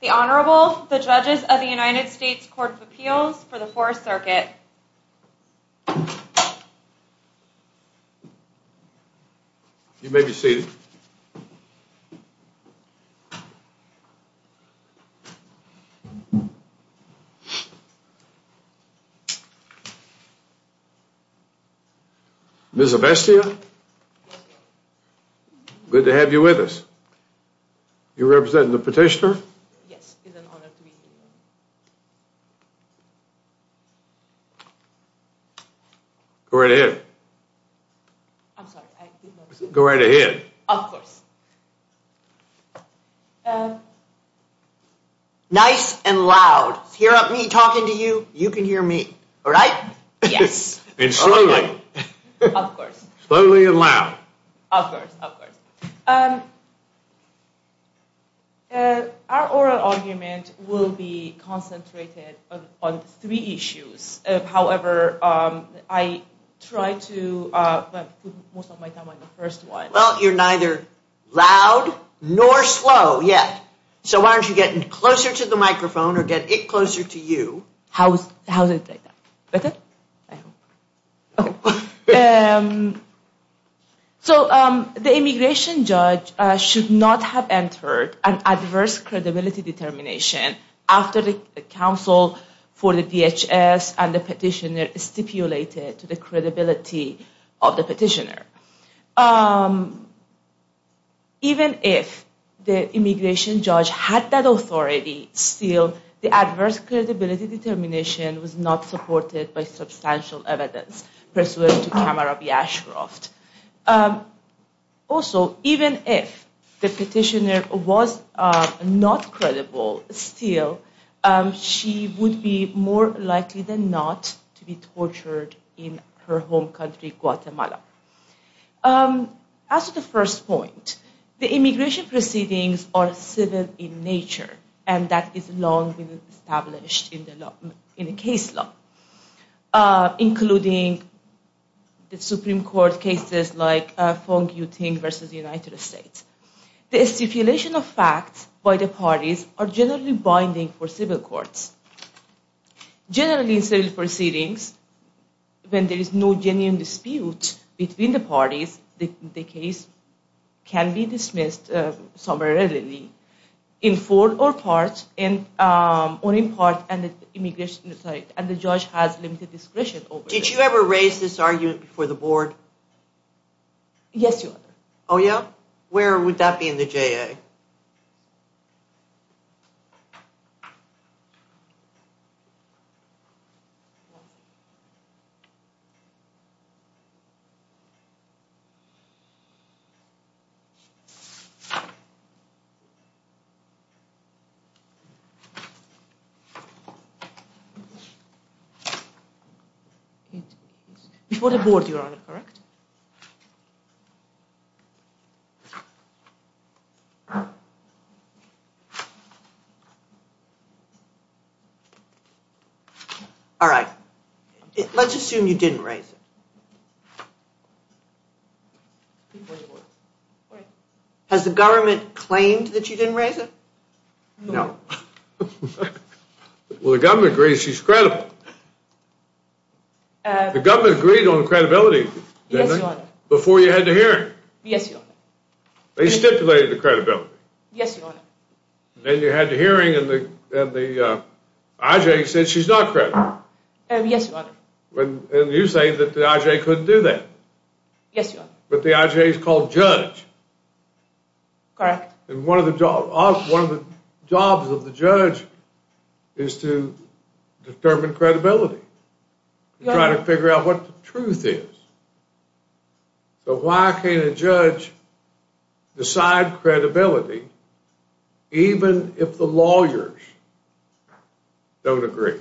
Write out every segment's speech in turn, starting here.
The Honorable, the Judges of the United States Court of Appeals for the Fourth Circuit. You may be seated. Ms. Avestia, good to have you with us. You represent the petitioner? Yes, it's an honor to be here. Go right ahead. I'm sorry, I didn't know. Go right ahead. Of course. Nice and loud. Hear me talking to you, you can hear me. All right? Yes. Of course. Slowly and loud. Of course, of course. Our oral argument will be concentrated on three issues. However, I tried to put most of my time on the first one. Well, you're neither loud nor slow yet. So why don't you get closer to the microphone or get it closer to you. How is it like that? Better? So the immigration judge should not have entered an adverse credibility determination after the counsel for the DHS and the petitioner stipulated to the credibility of the petitioner. Even if the immigration judge had that authority, still, the adverse credibility determination was not supported by substantial evidence pursuant to Kamara B. Ashcroft. Also, even if the petitioner was not credible, still, she would be more likely than not to be credible. As to the first point, the immigration proceedings are civil in nature, and that is long been established in the case law, including the Supreme Court cases like Feng Yuting versus the United States. The stipulation of facts by the parties are generally binding for civil courts. Generally, in civil proceedings, when there is no genuine dispute between the parties, the case can be dismissed summarily in full or in part, and the judge has limited discretion. Did you ever raise this argument before the board? Yes, Your Honor. Oh yeah? Where would that be in the JA? Before the board, Your Honor, correct? Correct. All right, let's assume you didn't raise it. Has the government claimed that you didn't raise it? No. Well, the government agrees she's credible. The government agreed on credibility, didn't it? Yes, Your Honor. Before you had the hearing? Yes, Your Honor. They stipulated the credibility? Yes, Your Honor. Then you had the hearing and the IJA said she's not credible? Yes, Your Honor. And you say that the IJA couldn't do that? Yes, Your Honor. But the IJA is called judge? Correct. And one of the jobs of the judge is to determine credibility, try to figure out what the truth is. So why can't a judge decide credibility even if the lawyers don't agree?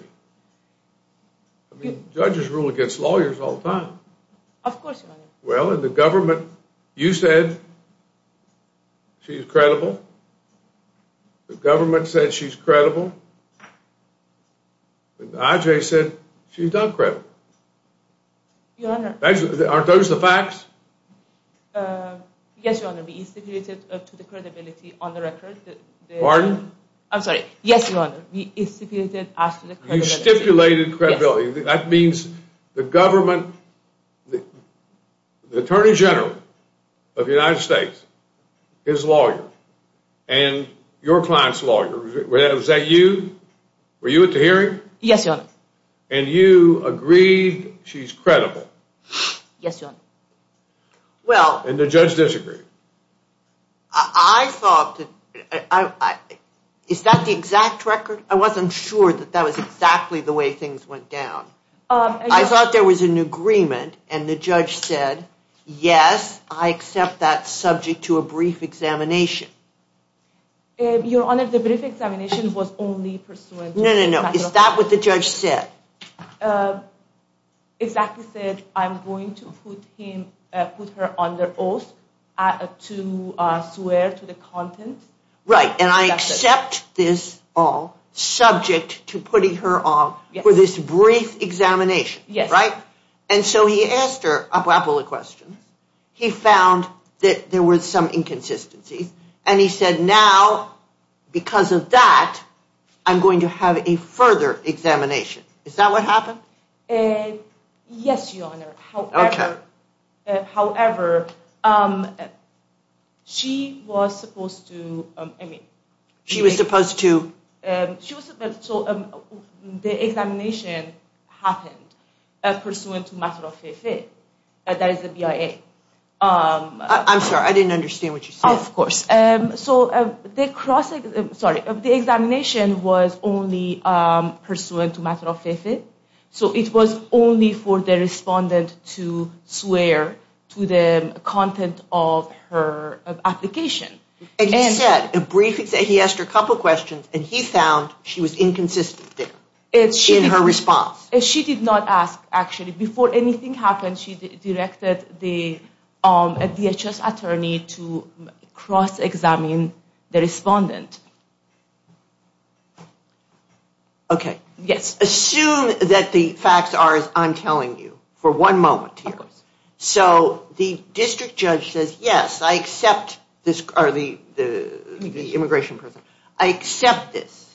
I mean, judges rule against lawyers all the time. Of course, Your Honor. Well, in the government, you said she's credible. The government said she's credible. But the IJA said she's not credible. Your Honor. Aren't those the facts? Yes, Your Honor. We stipulated to the credibility on the record. Pardon? I'm sorry. Yes, Your Honor. We stipulated as to the credibility. You stipulated credibility. That means the government, the Attorney General of the United States, his lawyer, and your client's lawyer, was that you? Were you at the hearing? Yes, Your Honor. And you agreed she's credible? Yes, Your Honor. Well... And the judge disagreed? I thought... Is that the exact record? I wasn't sure that that was exactly the way things went down. I thought there was an agreement and the judge said, yes, I accept that subject to a brief examination. Your Honor, the brief examination was only pursuant... No, no, no. Is that what the judge said? The judge exactly said I'm going to put her under oath to swear to the content. Right. And I accept this all subject to putting her on for this brief examination, right? And so he asked her a couple of questions. He found that there were some inconsistencies. And he said, now, because of that, I'm going to have a further examination. Is that what happened? Yes, Your Honor. However, she was supposed to... She was supposed to... The examination happened pursuant to matter of fait fait. That is the BIA. I'm sorry, I didn't understand what you said. Of course. So the examination was only pursuant to matter of fait fait. So it was only for the respondent to swear to the content of her application. He asked her a couple of questions and he found she was inconsistent there in her response. She did not ask, actually. Before anything happened, she directed the DHS attorney to cross-examine the respondent. Okay. Yes. Assume that the facts are as I'm telling you for one moment here. So the district judge says, yes, I accept this... Or the immigration person. I accept this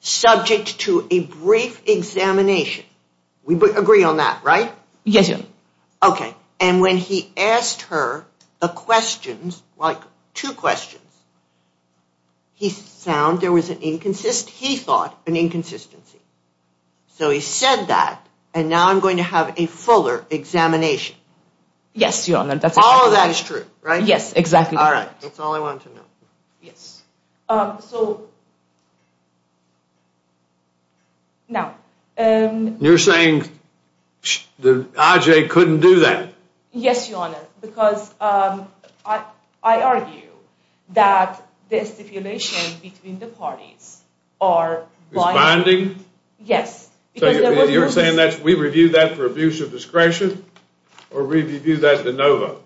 subject to a brief examination. We agree on that, right? Yes, Your Honor. Okay. And when he asked her the questions, like two questions, he found there was an inconsist... He thought an inconsistency. So he said that and now I'm going to have a fuller examination. Yes, Your Honor, that's... All of that is true, right? Yes, exactly. All right. That's all I want to know. Yes. So... Now... You're saying the IJ couldn't do that? Yes, Your Honor, because I argue that the stipulation between the parties are... Responding? Yes. So you're saying that we review that for abuse of discretion or review that de novo?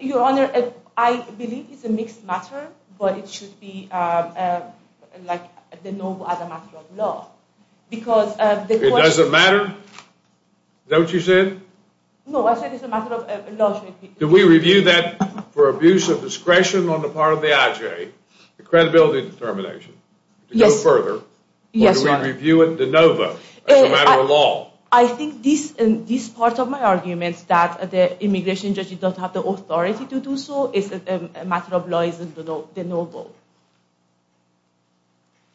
Your Honor, I believe it's a mixed matter, but it should be like de novo as a matter of law. Because the question... It doesn't matter? Is that what you said? No, I said it's a matter of law. Do we review that for abuse of discretion on the part of the IJ, the credibility determination, to go further? Or do we review it de novo as a matter of law? I think this part of my argument, that the immigration judge doesn't have the authority to do so, is a matter of law, de novo.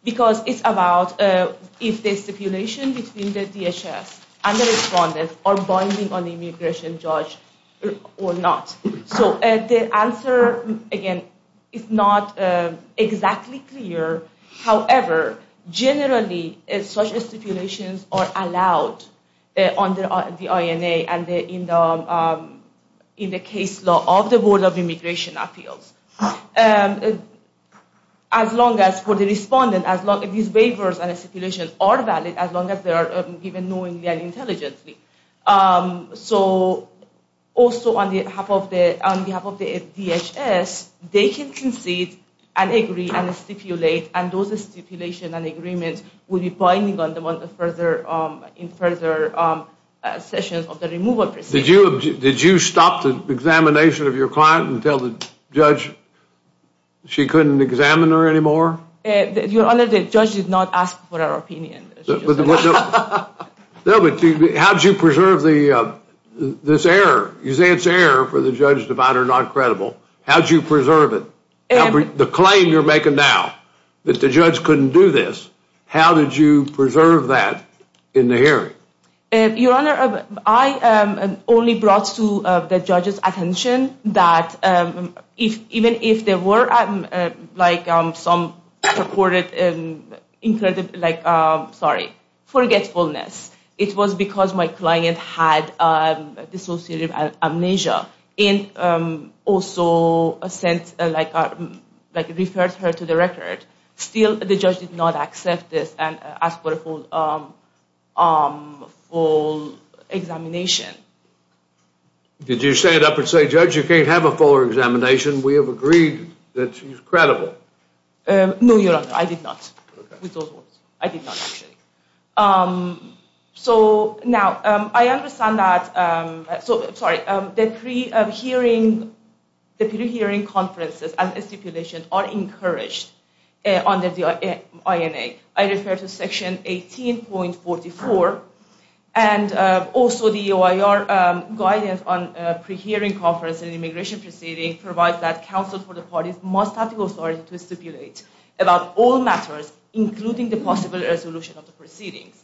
Because it's about if the stipulation between the DHS and the respondents are binding on the immigration judge or not. So the answer, again, is not exactly clear. However, generally such stipulations are allowed under the INA and in the case law of the Board of Immigration Appeals. As long as for the respondent, as long as these waivers and stipulations are valid, as long as they are given knowingly and intelligently. So also on behalf of the DHS, they can concede and agree and stipulate. And those stipulations and agreements will be binding on them in further sessions of the removal proceedings. Did you stop the examination of your client and tell the judge she couldn't examine her anymore? Your Honor, the judge did not ask for our opinion. No, but how did you preserve this error? You say it's error for the judge to find her not credible. How did you preserve it? The claim you're making now that the judge couldn't do this, how did you preserve that in the hearing? Your Honor, I only brought to the judge's attention that even if there were some purported forgetfulness, it was because my client had dissociative amnesia and also referred her to the record. Still, the judge did not accept this and ask for a full examination. Did you stand up and say, Judge, you can't have a full examination. We have agreed that she's credible. No, Your Honor, I did not. I did not, actually. The pre-hearing conferences and stipulation are encouraged under the INA. I refer to section 18.44. Also, the OIR guidance on pre-hearing conference and immigration proceedings provides that counsel for the parties must have the authority to stipulate about all matters, including the possible resolution of the proceedings.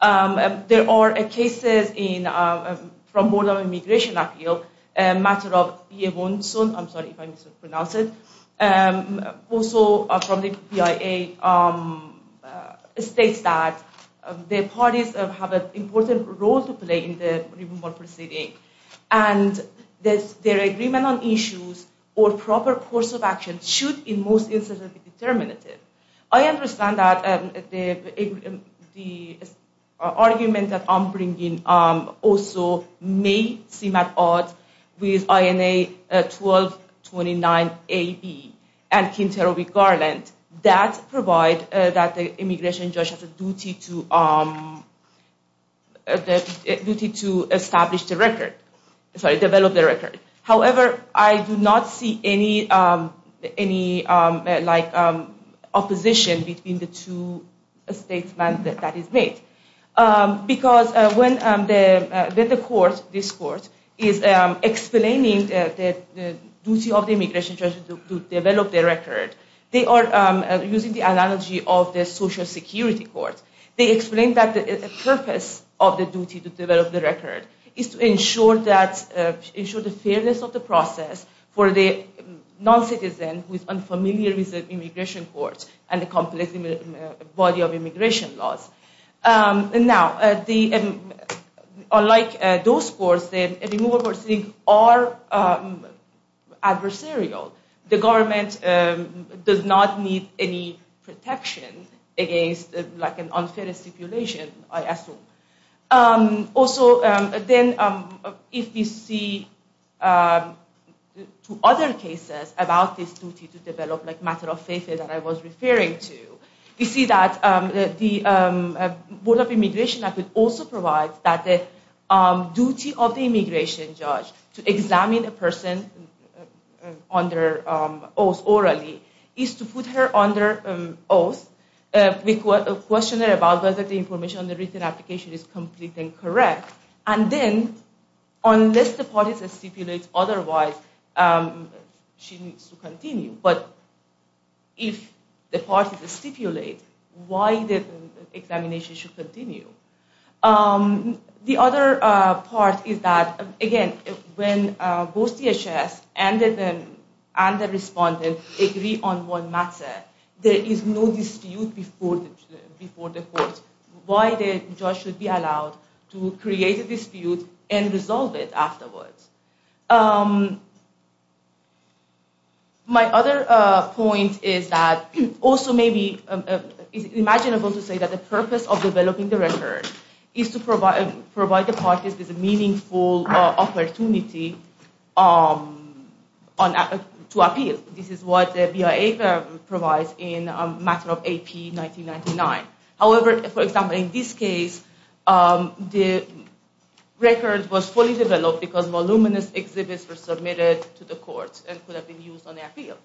There are cases from the Board of Immigration Appeals, a matter of B.A. Wonson. I'm sorry if I mispronounced it. Also, from the BIA, it states that the parties have an important role to play in the removal proceedings. And their agreement on issues or proper course of action should, in most instances, be determinative. I understand that the argument that I'm bringing also may seem at odds with INA 1229AB and Kinterow v. Garland. That provides that the immigration judge has a duty to establish the record. Sorry, develop the record. However, I do not see any opposition between the two statements that is made. Because when this court is explaining the duty of the immigration judge to develop the record, they are using the analogy of the social security court. They explain that the purpose of the duty to develop the record is to ensure the fairness of the process for the non-citizen who is unfamiliar with the immigration courts and the complex body of immigration laws. Now, unlike those courts, the removal proceedings are adversarial. The government does not need any protection against an unfair stipulation, I assume. Also, then, if we see two other cases about this duty to develop, like Matter of Faith that I was referring to, we see that the Board of Immigration Act would also provide that the duty of the immigration judge to examine a person under oath orally is to put her under oath. We question her about whether the information on the written application is complete and correct. And then, unless the parties stipulate otherwise, she needs to continue. But if the parties stipulate, why the examination should continue? The other part is that, again, when both DHS and the respondent agree on one matter, there is no dispute before the court why the judge should be allowed to create a dispute and resolve it afterwards. My other point is that, also, maybe it's imaginable to say that the purpose of developing the record is to provide the parties with a meaningful opportunity to appeal. This is what the BIA provides in Matter of AP 1999. However, for example, in this case, the record was fully developed because voluminous exhibits were submitted to the courts and could have been used on the appeal.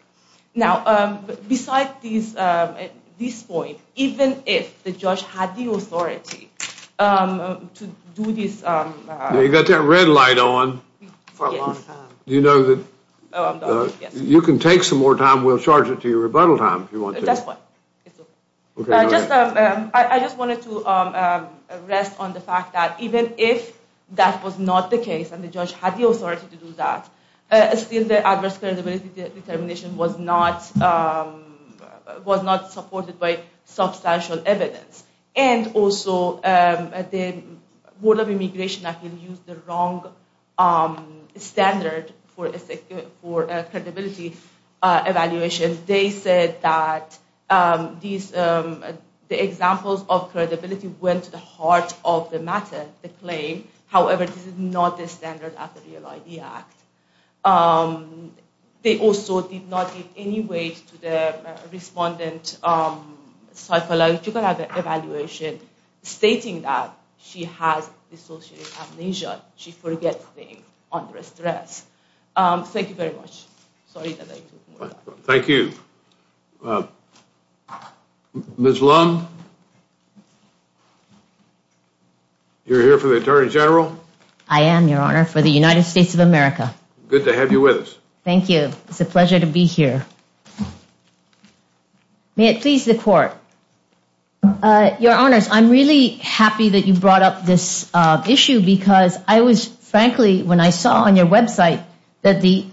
Now, besides this point, even if the judge had the authority to do this… We'll charge it to your rebuttal, Tom, if you want to. That's fine. I just wanted to rest on the fact that, even if that was not the case and the judge had the authority to do that, still, the adverse credibility determination was not supported by substantial evidence. And also, the Board of Immigration actually used the wrong standard for credibility. Evaluation, they said that the examples of credibility went to the heart of the matter, the claim. However, this is not the standard of the Real ID Act. They also did not give any weight to the respondent's psychological evaluation, stating that she has dissociative amnesia. She forgets things under stress. Thank you very much. Thank you. Ms. Lum? You're here for the Attorney General? I am, Your Honor, for the United States of America. Good to have you with us. Thank you. It's a pleasure to be here. May it please the Court. Your Honors, I'm really happy that you brought up this issue because I was, frankly, when I saw on your website that the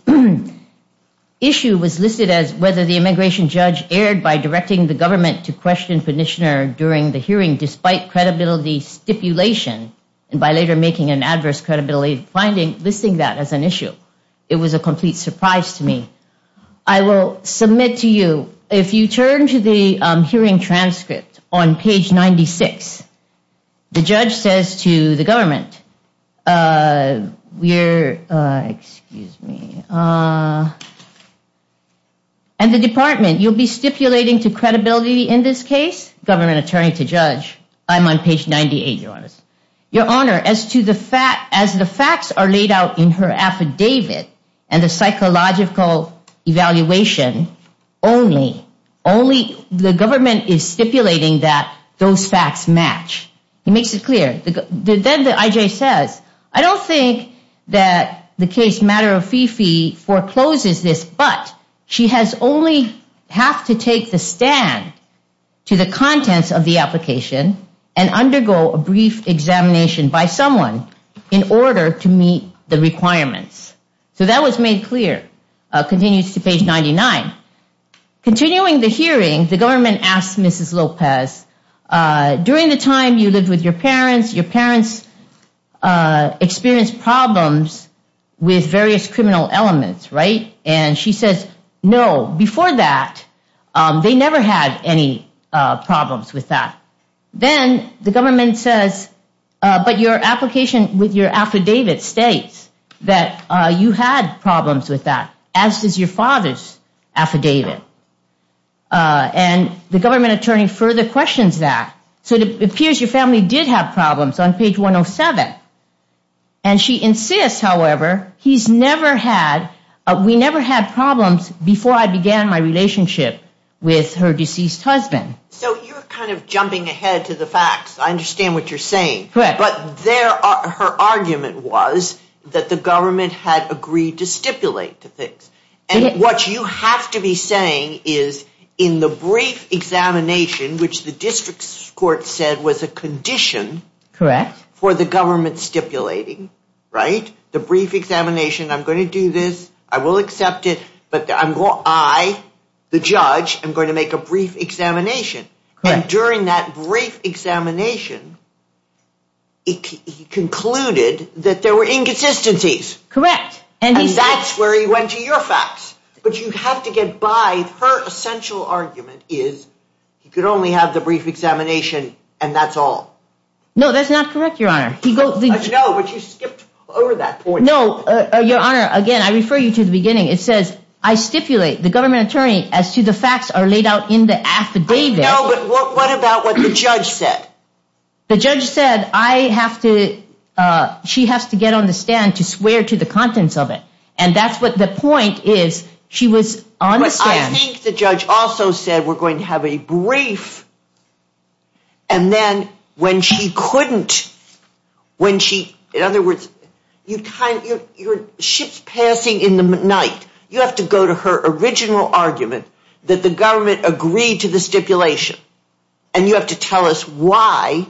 issue was listed as whether the immigration judge erred by directing the government to question the petitioner during the hearing despite credibility stipulation, and by later making an adverse credibility finding, listing that as an issue. It was a complete surprise to me. I will submit to you, if you turn to the hearing transcript on page 96, the judge says to the government, uh, we're, uh, excuse me, uh, and the department, you'll be stipulating to credibility in this case? Government attorney to judge. I'm on page 98, Your Honors. Your Honor, as to the fact, as the facts are laid out in her affidavit and the psychological evaluation, only, only the government is stipulating that those facts match. He makes it clear. Then the IJ says, I don't think that the case matter of Fifi forecloses this, but she has only have to take the stand to the contents of the application and undergo a brief examination by someone in order to meet the requirements. So that was made clear. Continues to page 99. Continuing the hearing, the government asked Mrs. Lopez, during the time you lived with your parents, your parents experienced problems with various criminal elements, right? And she says, no, before that, they never had any problems with that. Then the government says, but your application with your affidavit states that you had problems with that, as does your father's affidavit. And the government attorney further questions that. So it appears your family did have problems on page 107. And she insists, however, he's never had, we never had problems before I began my relationship with her deceased husband. So you're kind of jumping ahead to the facts. I understand what you're saying, but there are, her argument was that the government had agreed to stipulate to fix. And what you have to be saying is in the brief examination, which the district court said was a condition for the government stipulating, right? The brief examination, I'm going to do this. I will accept it. But I, the judge, I'm going to make a brief examination. And during that brief examination, he concluded that there were inconsistencies. Correct. And that's where he went to your facts. But you have to get by her essential argument is he could only have the brief examination and that's all. No, that's not correct. Your honor. He goes, no, but you skipped over that point. No, your honor. Again, I refer you to the beginning. It says I stipulate the government attorney as to the facts are laid out in the affidavit. No, but what about what the judge said? The judge said I have to, she has to get on the stand to swear to the contents of it. And that's what the point is. She was on the stand. But I think the judge also said we're going to have a brief. And then when she couldn't, when she, in other words, you kind of, your ship's passing in the night. You have to go to her original argument that the government agreed to the stipulation. And you have to tell us why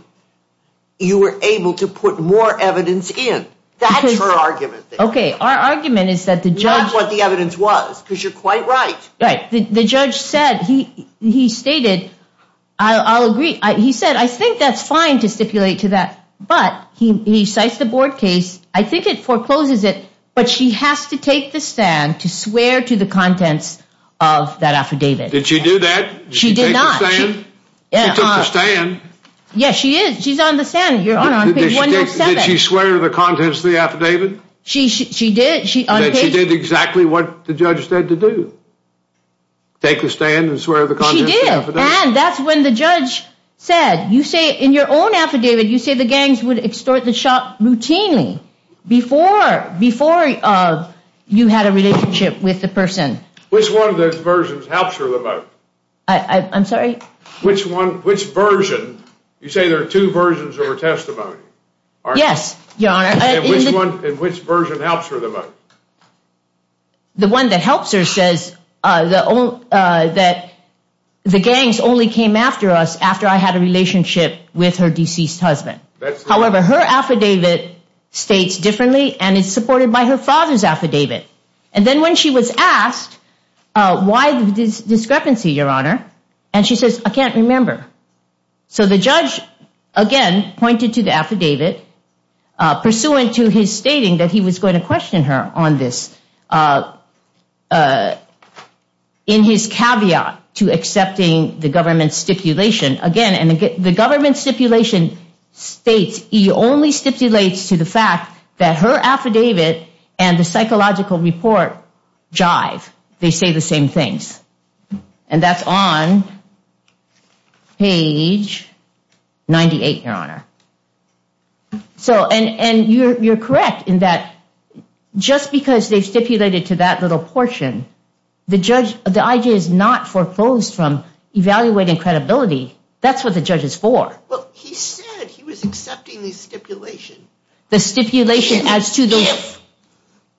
you were able to put more evidence in that argument. Okay. Our argument is that the judge, what the evidence was, because you're quite right. Right. The judge said he, he stated, I'll agree. He said, I think that's fine to stipulate to that. But he, he cites the board case. I think it forecloses it, but she has to take the stand to swear to the contents of that affidavit. Did she do that? She did not. She took the stand. Yes, she is. She's on the stand. You're on page 107. Did she swear to the contents of the affidavit? She, she did. She did exactly what the judge said to do. Take the stand and swear to the contents of the affidavit. And that's when the judge said, you say in your own affidavit, you say the gangs would extort the shop routinely before, before you had a relationship with the person. Which one of those versions helps her the most? I'm sorry? Which one, which version? You say there are two versions of her testimony. Yes, your honor. And which one, and which version helps her the most? The one that helps her says the, that the gangs only came after us after I had a relationship with her deceased husband. However, her affidavit states differently and is supported by her father's affidavit. And then when she was asked, why the discrepancy, your honor? And she says, I can't remember. So the judge, again, pointed to the affidavit, pursuant to his stating that he was going to question her on this, in his caveat to accepting the government stipulation. Again, and again, the government stipulation states he only stipulates to the fact that her affidavit and the psychological report jive. They say the same things. And that's on page 98, your honor. So, and, and you're, you're correct in that just because they've stipulated to that little portion, the judge, the IG is not foreclosed from evaluating credibility. That's what the judge is for. Well, he said he was accepting the stipulation. The stipulation as to the,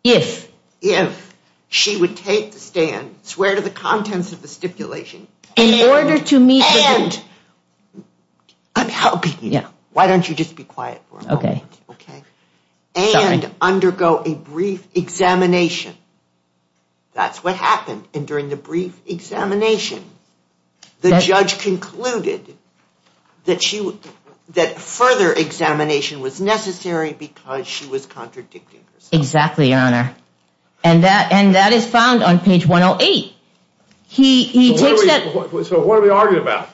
if. If she would take the stand, swear to the contents of the stipulation. In order to meet. And, I'm helping you. Why don't you just be quiet for a moment? Okay. And undergo a brief examination. That's what happened. And during the brief examination, the judge concluded that she, that further examination was necessary because she was contradicting herself. Exactly, your honor. And that, and that is found on page 108. He, he takes that. So what are we arguing about?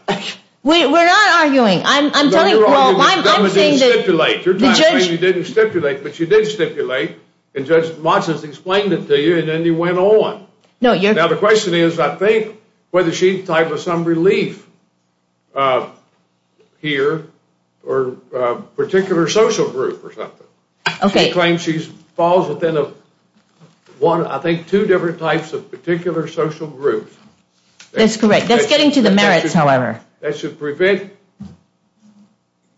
We're not arguing. I'm, I'm telling you, well, I'm, I'm saying that. You're arguing the government didn't stipulate. You're trying to say you didn't stipulate, but you did stipulate. And Judge Monson explained it to you, and then you went on. No, you're. Now, the question is, I think, whether she's tied with some relief. Uh, here, or, uh, particular social group or something. Okay. She claims she's, falls within a one, I think, two different types of particular social group. That's correct. That's getting to the merits, however. That should prevent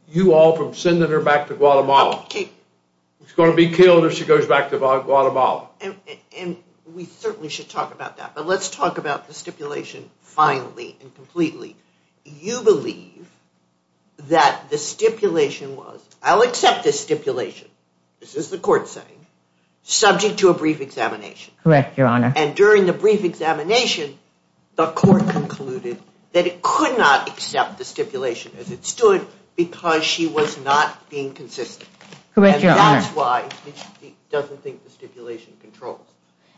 you all from sending her back to Guatemala. Okay. She's going to be killed if she goes back to Guatemala. And, and we certainly should talk about that. Let's talk about the stipulation finally and completely. You believe that the stipulation was, I'll accept this stipulation. This is the court saying, subject to a brief examination. Correct, Your Honor. And during the brief examination, the court concluded that it could not accept the stipulation as it stood because she was not being consistent. Correct, Your Honor. And that's why she doesn't think the stipulation controls.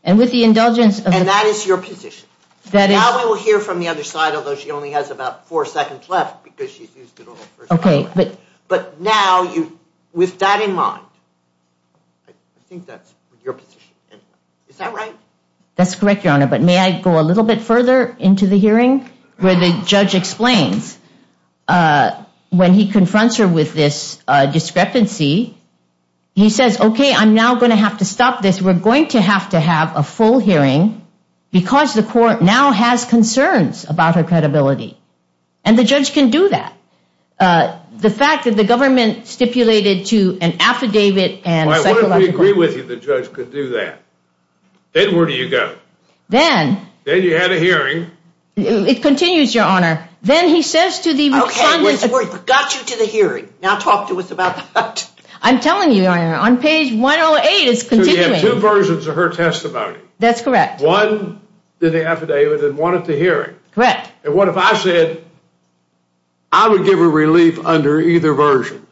And with the indulgence of. And that is your position. That is. Now we will hear from the other side, although she only has about four seconds left because she's used it all. Okay, but. But now you, with that in mind, I think that's your position anyway. Is that right? That's correct, Your Honor, but may I go a little bit further into the hearing where the judge explains, uh, when he confronts her with this, uh, discrepancy, he says, okay, I'm now going to have to stop this. We're going to have to have a full hearing because the court now has concerns about her credibility. And the judge can do that. Uh, the fact that the government stipulated to an affidavit and. I want to agree with you. The judge could do that. Then where do you go? Then. Then you had a hearing. It continues, Your Honor. Then he says to the. Okay, we got you to the hearing. Now talk to us about that. I'm telling you, Your Honor, on page 108. You have two versions of her testimony. That's correct. One, the affidavit and one at the hearing. Correct. And what if I said. I would give a relief under either version.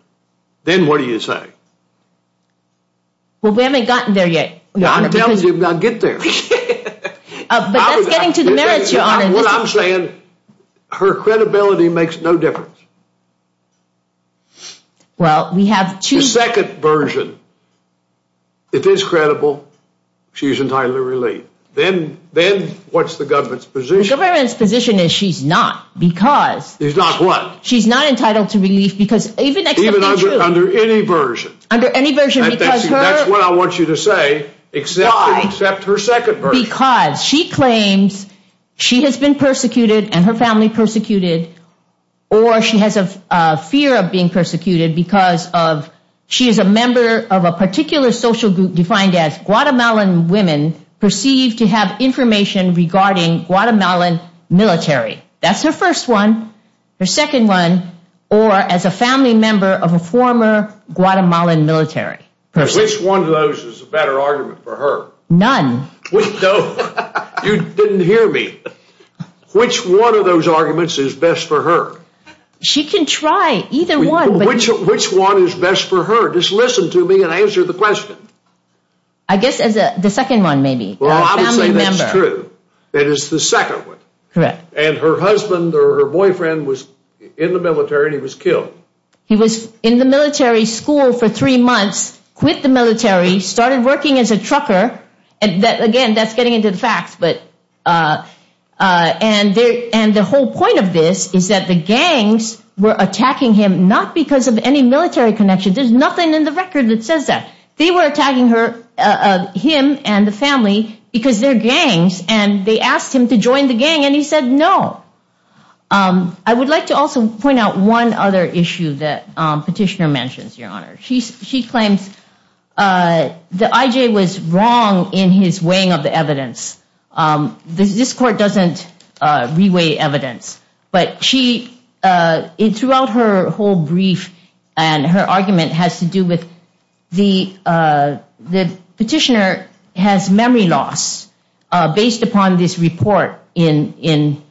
Then what do you say? Well, we haven't gotten there yet. I'm telling you, I'll get there. But that's getting to the merits, Your Honor. What I'm saying, her credibility makes no difference. Well, we have two. Second version. If it's credible, she's entitled to relief. Then then what's the government's position? The government's position is she's not because. She's not what? She's not entitled to relief because even. Under any version. Under any version. That's what I want you to say. Except her second version. Because she claims she has been persecuted and her family persecuted. Or she has a fear of being persecuted because of. She is a member of a particular social group defined as Guatemalan women. Perceived to have information regarding Guatemalan military. That's her first one. Her second one. Or as a family member of a former Guatemalan military. Which one of those is a better argument for her? None. No, you didn't hear me. Which one of those arguments is best for her? She can try either one. Which which one is best for her? Just listen to me and answer the question. I guess as the second one, maybe. Well, I would say that's true. That is the second one. Correct. And her husband or her boyfriend was in the military. He was killed. He was in the military school for three months. Quit the military. Started working as a trucker. And that again, that's getting into the facts. And the whole point of this is that the gangs were attacking him. Not because of any military connection. There's nothing in the record that says that. They were attacking him and the family because they're gangs. And they asked him to join the gang. And he said no. I would like to also point out one other issue that Petitioner mentions, Your Honor. She claims that I.J. was wrong in his weighing of the evidence. This court doesn't re-weigh evidence. But she, throughout her whole brief and her argument has to do with the Petitioner has memory loss based upon this report in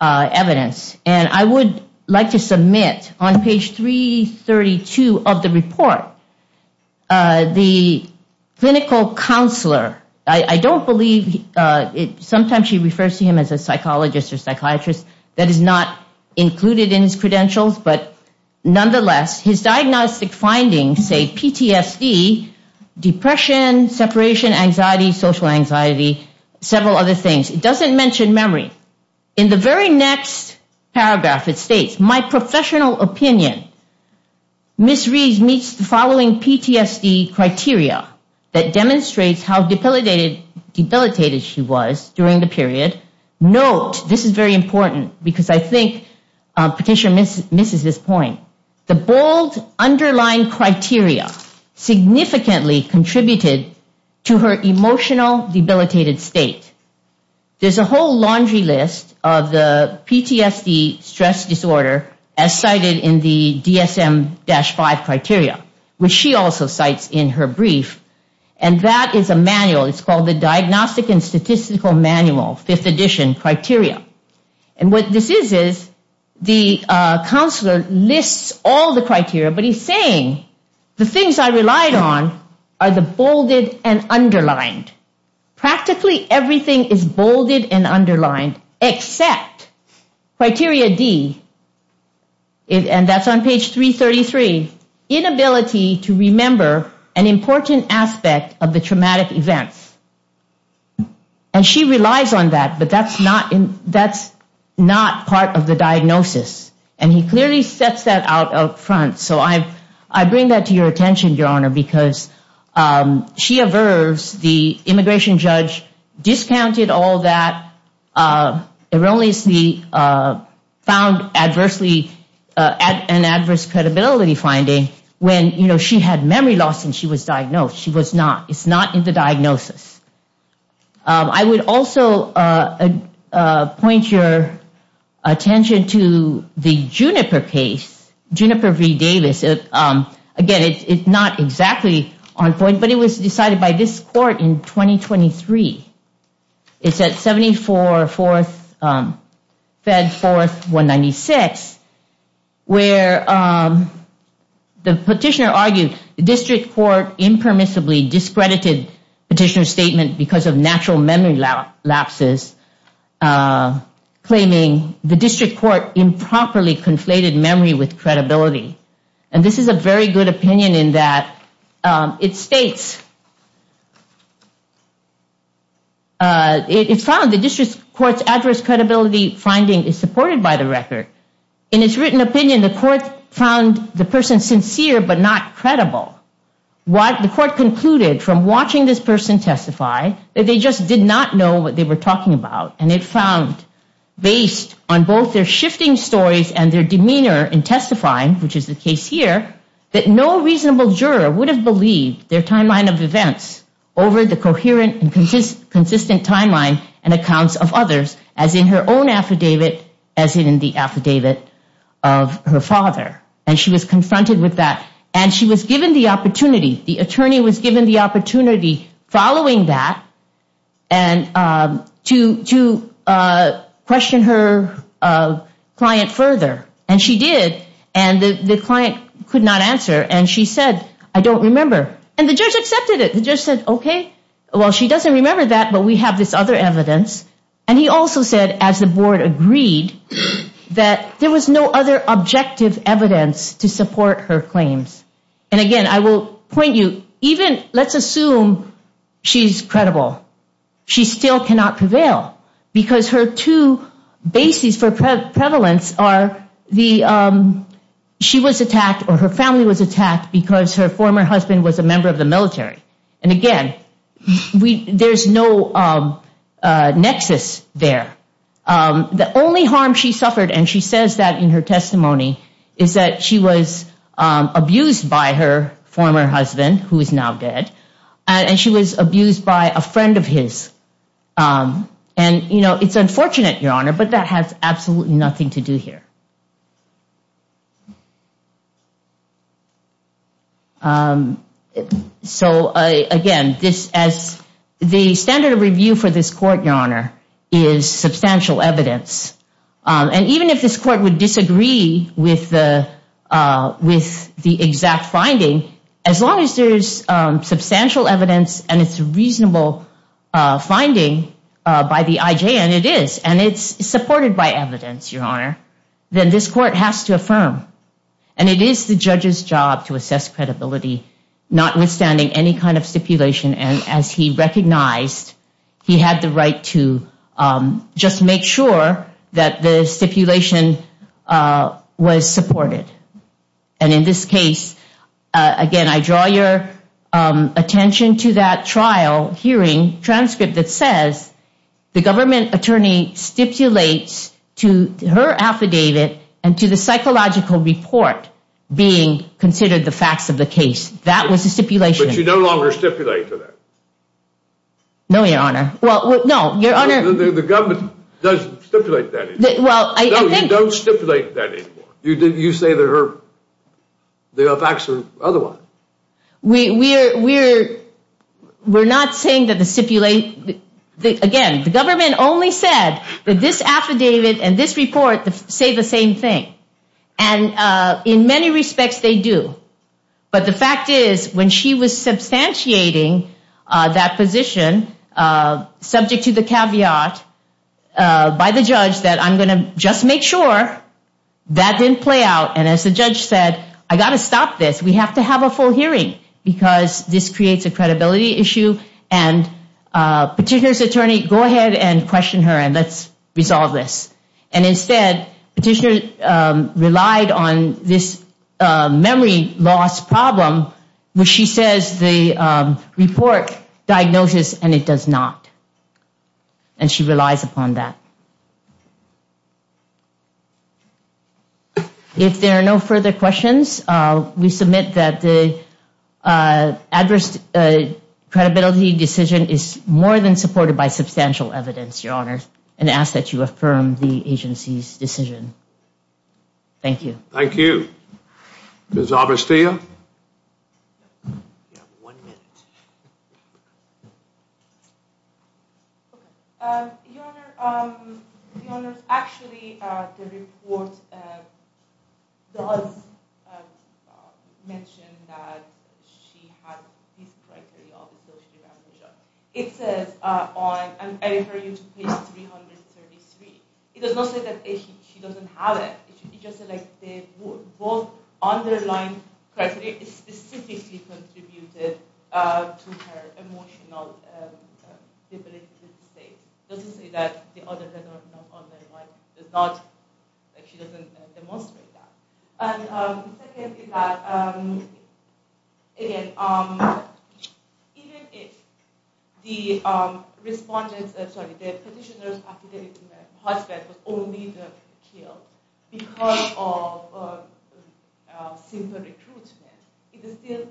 evidence. And I would like to submit on page 332 of the report, the clinical counselor. I don't believe, sometimes she refers to him as a psychologist or psychiatrist. That is not included in his credentials. But nonetheless, his diagnostic findings say PTSD, depression, separation, anxiety, social anxiety, several other things. It doesn't mention memory. In the very next paragraph, it states, my professional opinion. Ms. Reed meets the following PTSD criteria that demonstrates how debilitated she was during the period. Note, this is very important because I think Petitioner misses this point. The bold underlying criteria significantly contributed to her emotional debilitated state. There's a whole laundry list of the PTSD stress disorder as cited in the DSM-5 criteria, which she also cites in her brief. And that is a manual. It's called the Diagnostic and Statistical Manual, 5th edition criteria. And what this is, is the counselor lists all the criteria. But he's saying, the things I relied on are the bolded and underlined. Practically everything is bolded and underlined, except criteria D, and that's on page 333, inability to remember an important aspect of the traumatic events. And she relies on that, but that's not part of the diagnosis. And he clearly sets that out up front. I bring that to your attention, Your Honor, because she averves the immigration judge discounted all that, found an adverse credibility finding when she had memory loss and she was diagnosed. She was not. It's not in the diagnosis. I would also point your attention to the Juniper case, Juniper v. Davis. Again, it's not exactly on point, but it was decided by this court in 2023. It's at 74, 4th, Fed 4th 196, where the petitioner argued the district court impermissibly discredited petitioner's statement because of natural memory lapses, claiming the district court improperly conflated memory with credibility. And this is a very good opinion in that it states, it found the district court's adverse credibility finding is supported by the record. In its written opinion, the court found the person sincere but not credible. What the court concluded from watching this person testify that they just did not know what they were talking about. And it found based on both their shifting stories and their demeanor in testifying, which is the case here, that no reasonable juror would have believed their timeline of events over the coherent and consistent timeline and accounts of others as in her own affidavit as in the affidavit of her father. And she was confronted with that. And she was given the opportunity. The attorney was given the opportunity following that and to question her client further. And she did. And the client could not answer. And she said, I don't remember. And the judge accepted it. The judge said, OK, well, she doesn't remember that. But we have this other evidence. And he also said, as the board agreed, that there was no other objective evidence to support her claims. And again, I will point you, even let's assume she's credible. She still cannot prevail because her two bases for prevalence are she was attacked or her family was attacked because her former husband was a member of the military. And again, there's no nexus there. The only harm she suffered, and she says that in her testimony, is that she was abused by her former husband, who is now dead, and she was abused by a friend of his. And it's unfortunate, Your Honor, but that has absolutely nothing to do here. So, again, the standard of review for this court, Your Honor, is substantial evidence. And even if this court would disagree with the exact finding, as long as there's substantial evidence and it's a reasonable finding by the IJ, and it is, and it's supported by evidence, then this court has to affirm. And it is the judge's job to assess credibility, notwithstanding any kind of stipulation. And as he recognized, he had the right to just make sure that the stipulation was supported. And in this case, again, I draw your attention to that trial hearing transcript that says, the government attorney stipulates to her affidavit and to the psychological report being considered the facts of the case. That was the stipulation. But you no longer stipulate to that. No, Your Honor. Well, no, Your Honor. The government doesn't stipulate that anymore. Well, I think— No, you don't stipulate that anymore. You say that her, the facts are otherwise. We're not saying that the stipulation— Again, the government only said that this affidavit and this report say the same thing. And in many respects, they do. But the fact is, when she was substantiating that position, subject to the caveat by the judge that I'm going to just make sure, that didn't play out. And as the judge said, I got to stop this. We have to have a full hearing because this creates a credibility issue. And Petitioner's attorney, go ahead and question her and let's resolve this. And instead, Petitioner relied on this memory loss problem, which she says the report diagnoses and it does not. And she relies upon that. If there are no further questions, we submit that the adverse credibility decision is more than supported by substantial evidence, Your Honor, and ask that you affirm the agency's decision. Thank you. Thank you. Ms. Avrastia? We have one minute. Your Honor, actually, the report does mention that she had these criteria. It says on page 333. It does not say that she doesn't have it. It just said that both underlying criteria specifically contributed to her emotional debilitated state. It doesn't say that the other does not, she doesn't demonstrate that. And secondly, that, again, even if the respondent, sorry, the Petitioner's affidavit to her because of simple recruitment, it is still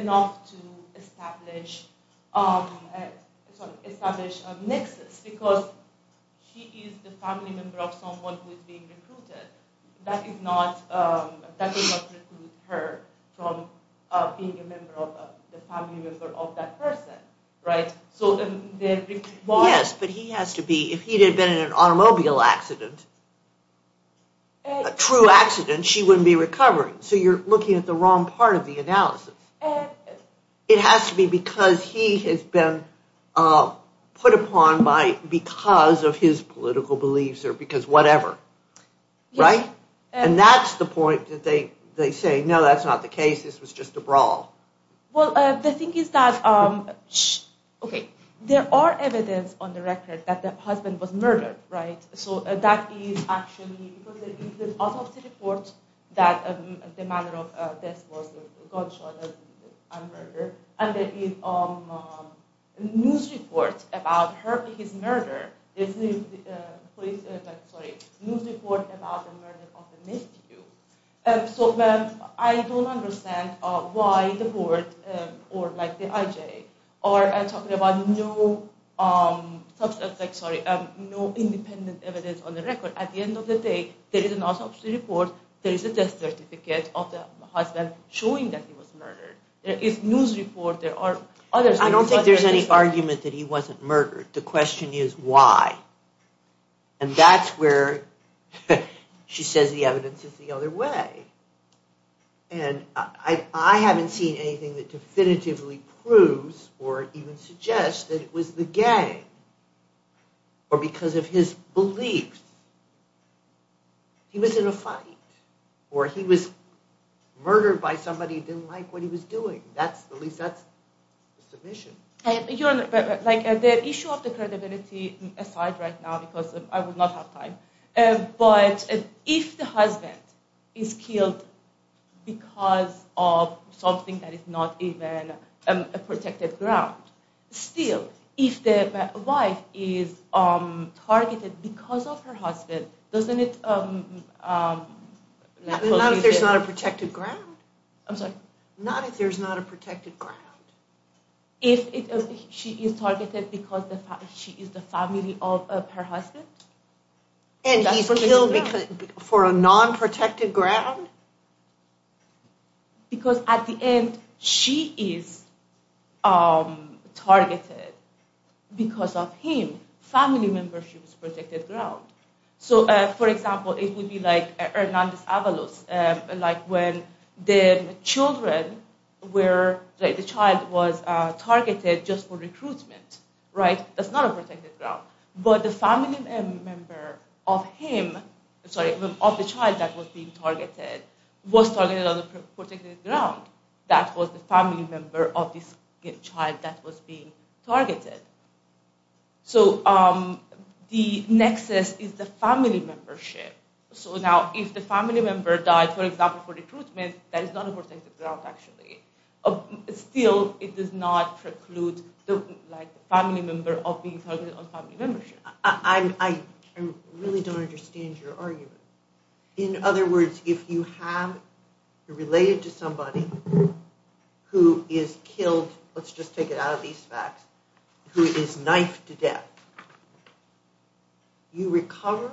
enough to establish a nexus because she is the family member of someone who is being recruited. That does not recruit her from being a family member of that person, right? Yes, but he has to be, if he had been in an automobile accident, a true accident, she wouldn't be recovering. So you're looking at the wrong part of the analysis. It has to be because he has been put upon by, because of his political beliefs or because whatever, right? And that's the point that they say, no, that's not the case. This was just a brawl. Well, the thing is that, okay, there are evidence on the record that the husband was murdered, right? So that is actually, because there is autopsy reports that the manner of death was a gunshot and murder. And there is news reports about her, his murder, news report about the murder of the nephew. So I don't understand why the board or like the IJ are talking about no independent evidence on the record. At the end of the day, there is an autopsy report. There is a death certificate of the husband showing that he was murdered. There is news report. There are others. I don't think there's any argument that he wasn't murdered. The question is why? And that's where she says the evidence is the other way. And I haven't seen anything that definitively proves or even suggests that it was the gang or because of his beliefs. He was in a fight or he was murdered by somebody who didn't like what he was doing. That's the least, that's the submission. You're like the issue of the credibility aside right now, because I will not have time. But if the husband is killed because of something that is not even a protected ground, still, if the wife is targeted because of her husband, doesn't it? Not if there's not a protected ground. I'm sorry? Not if there's not a protected ground. If she is targeted because she is the family of her husband? And he's killed for a non-protected ground? Because at the end, she is targeted because of him. Family membership is protected ground. So, for example, it would be like Hernandez Avalos. Like when the child was targeted just for recruitment, right? That's not a protected ground. But the family member of him, sorry, of the child that was being targeted, was targeted on a protected ground. That was the family member of this child that was being targeted. So, the nexus is the family membership. So, now, if the family member died, for example, for recruitment, that is not a protected ground, actually. Still, it does not preclude the family member of being targeted on family membership. I really don't understand your argument. In other words, if you have related to somebody who is killed, let's just take it out of these facts, who is knifed to death, do you recover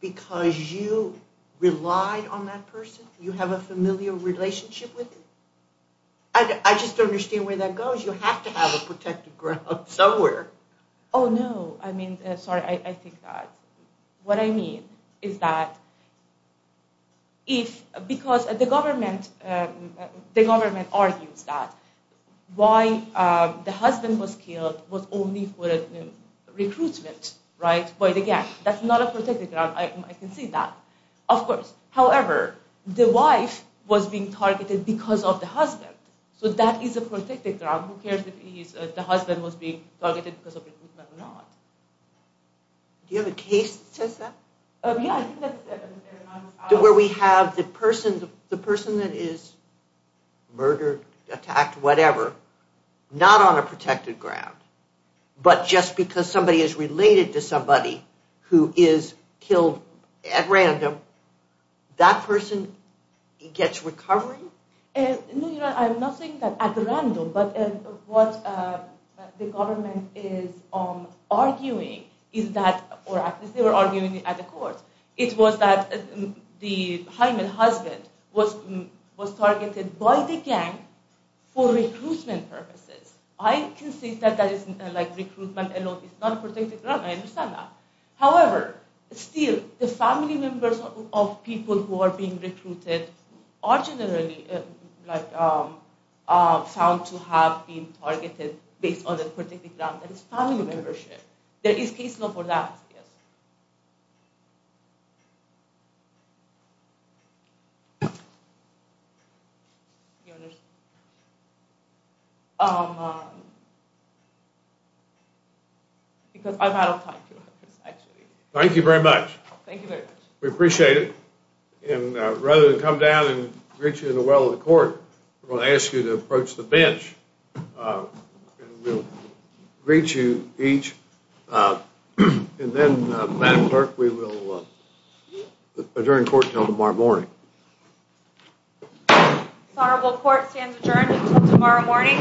because you relied on that person? You have a familial relationship with them? I just don't understand where that goes. You have to have a protected ground somewhere. Oh, no. I mean, sorry, I think that what I mean is that if, because the government argues that why the husband was killed was only for recruitment, right? But, again, that's not a protected ground. I can see that, of course. However, the wife was being targeted because of the husband. So, that is a protected ground. Who cares if the husband was being targeted because of recruitment or not? Do you have a case that says that? Yeah. Where we have the person that is murdered, attacked, whatever, not on a protected ground, but just because somebody is related to somebody who is killed at random, that person gets recovery? No, Your Honor, I'm not saying that at random, but what the government is arguing is that, or at least they were arguing it at the court, it was that the Hyman husband was targeted by the gang for recruitment purposes. I can see that that isn't recruitment alone. It's not a protected ground. I understand that. However, still, the family members of people who are being recruited are generally found to have been targeted based on a protected ground. That is family membership. There is case law for that, yes. Your Honor, because I've out of time, Your Honor, actually. Thank you very much. Thank you very much. We appreciate it. And rather than come down and greet you in the well of the court, we're going to ask you to approach the bench, and we'll greet you each. And then, Madam Clerk, we will adjourn court until tomorrow morning. This honorable court stands adjourned until tomorrow morning.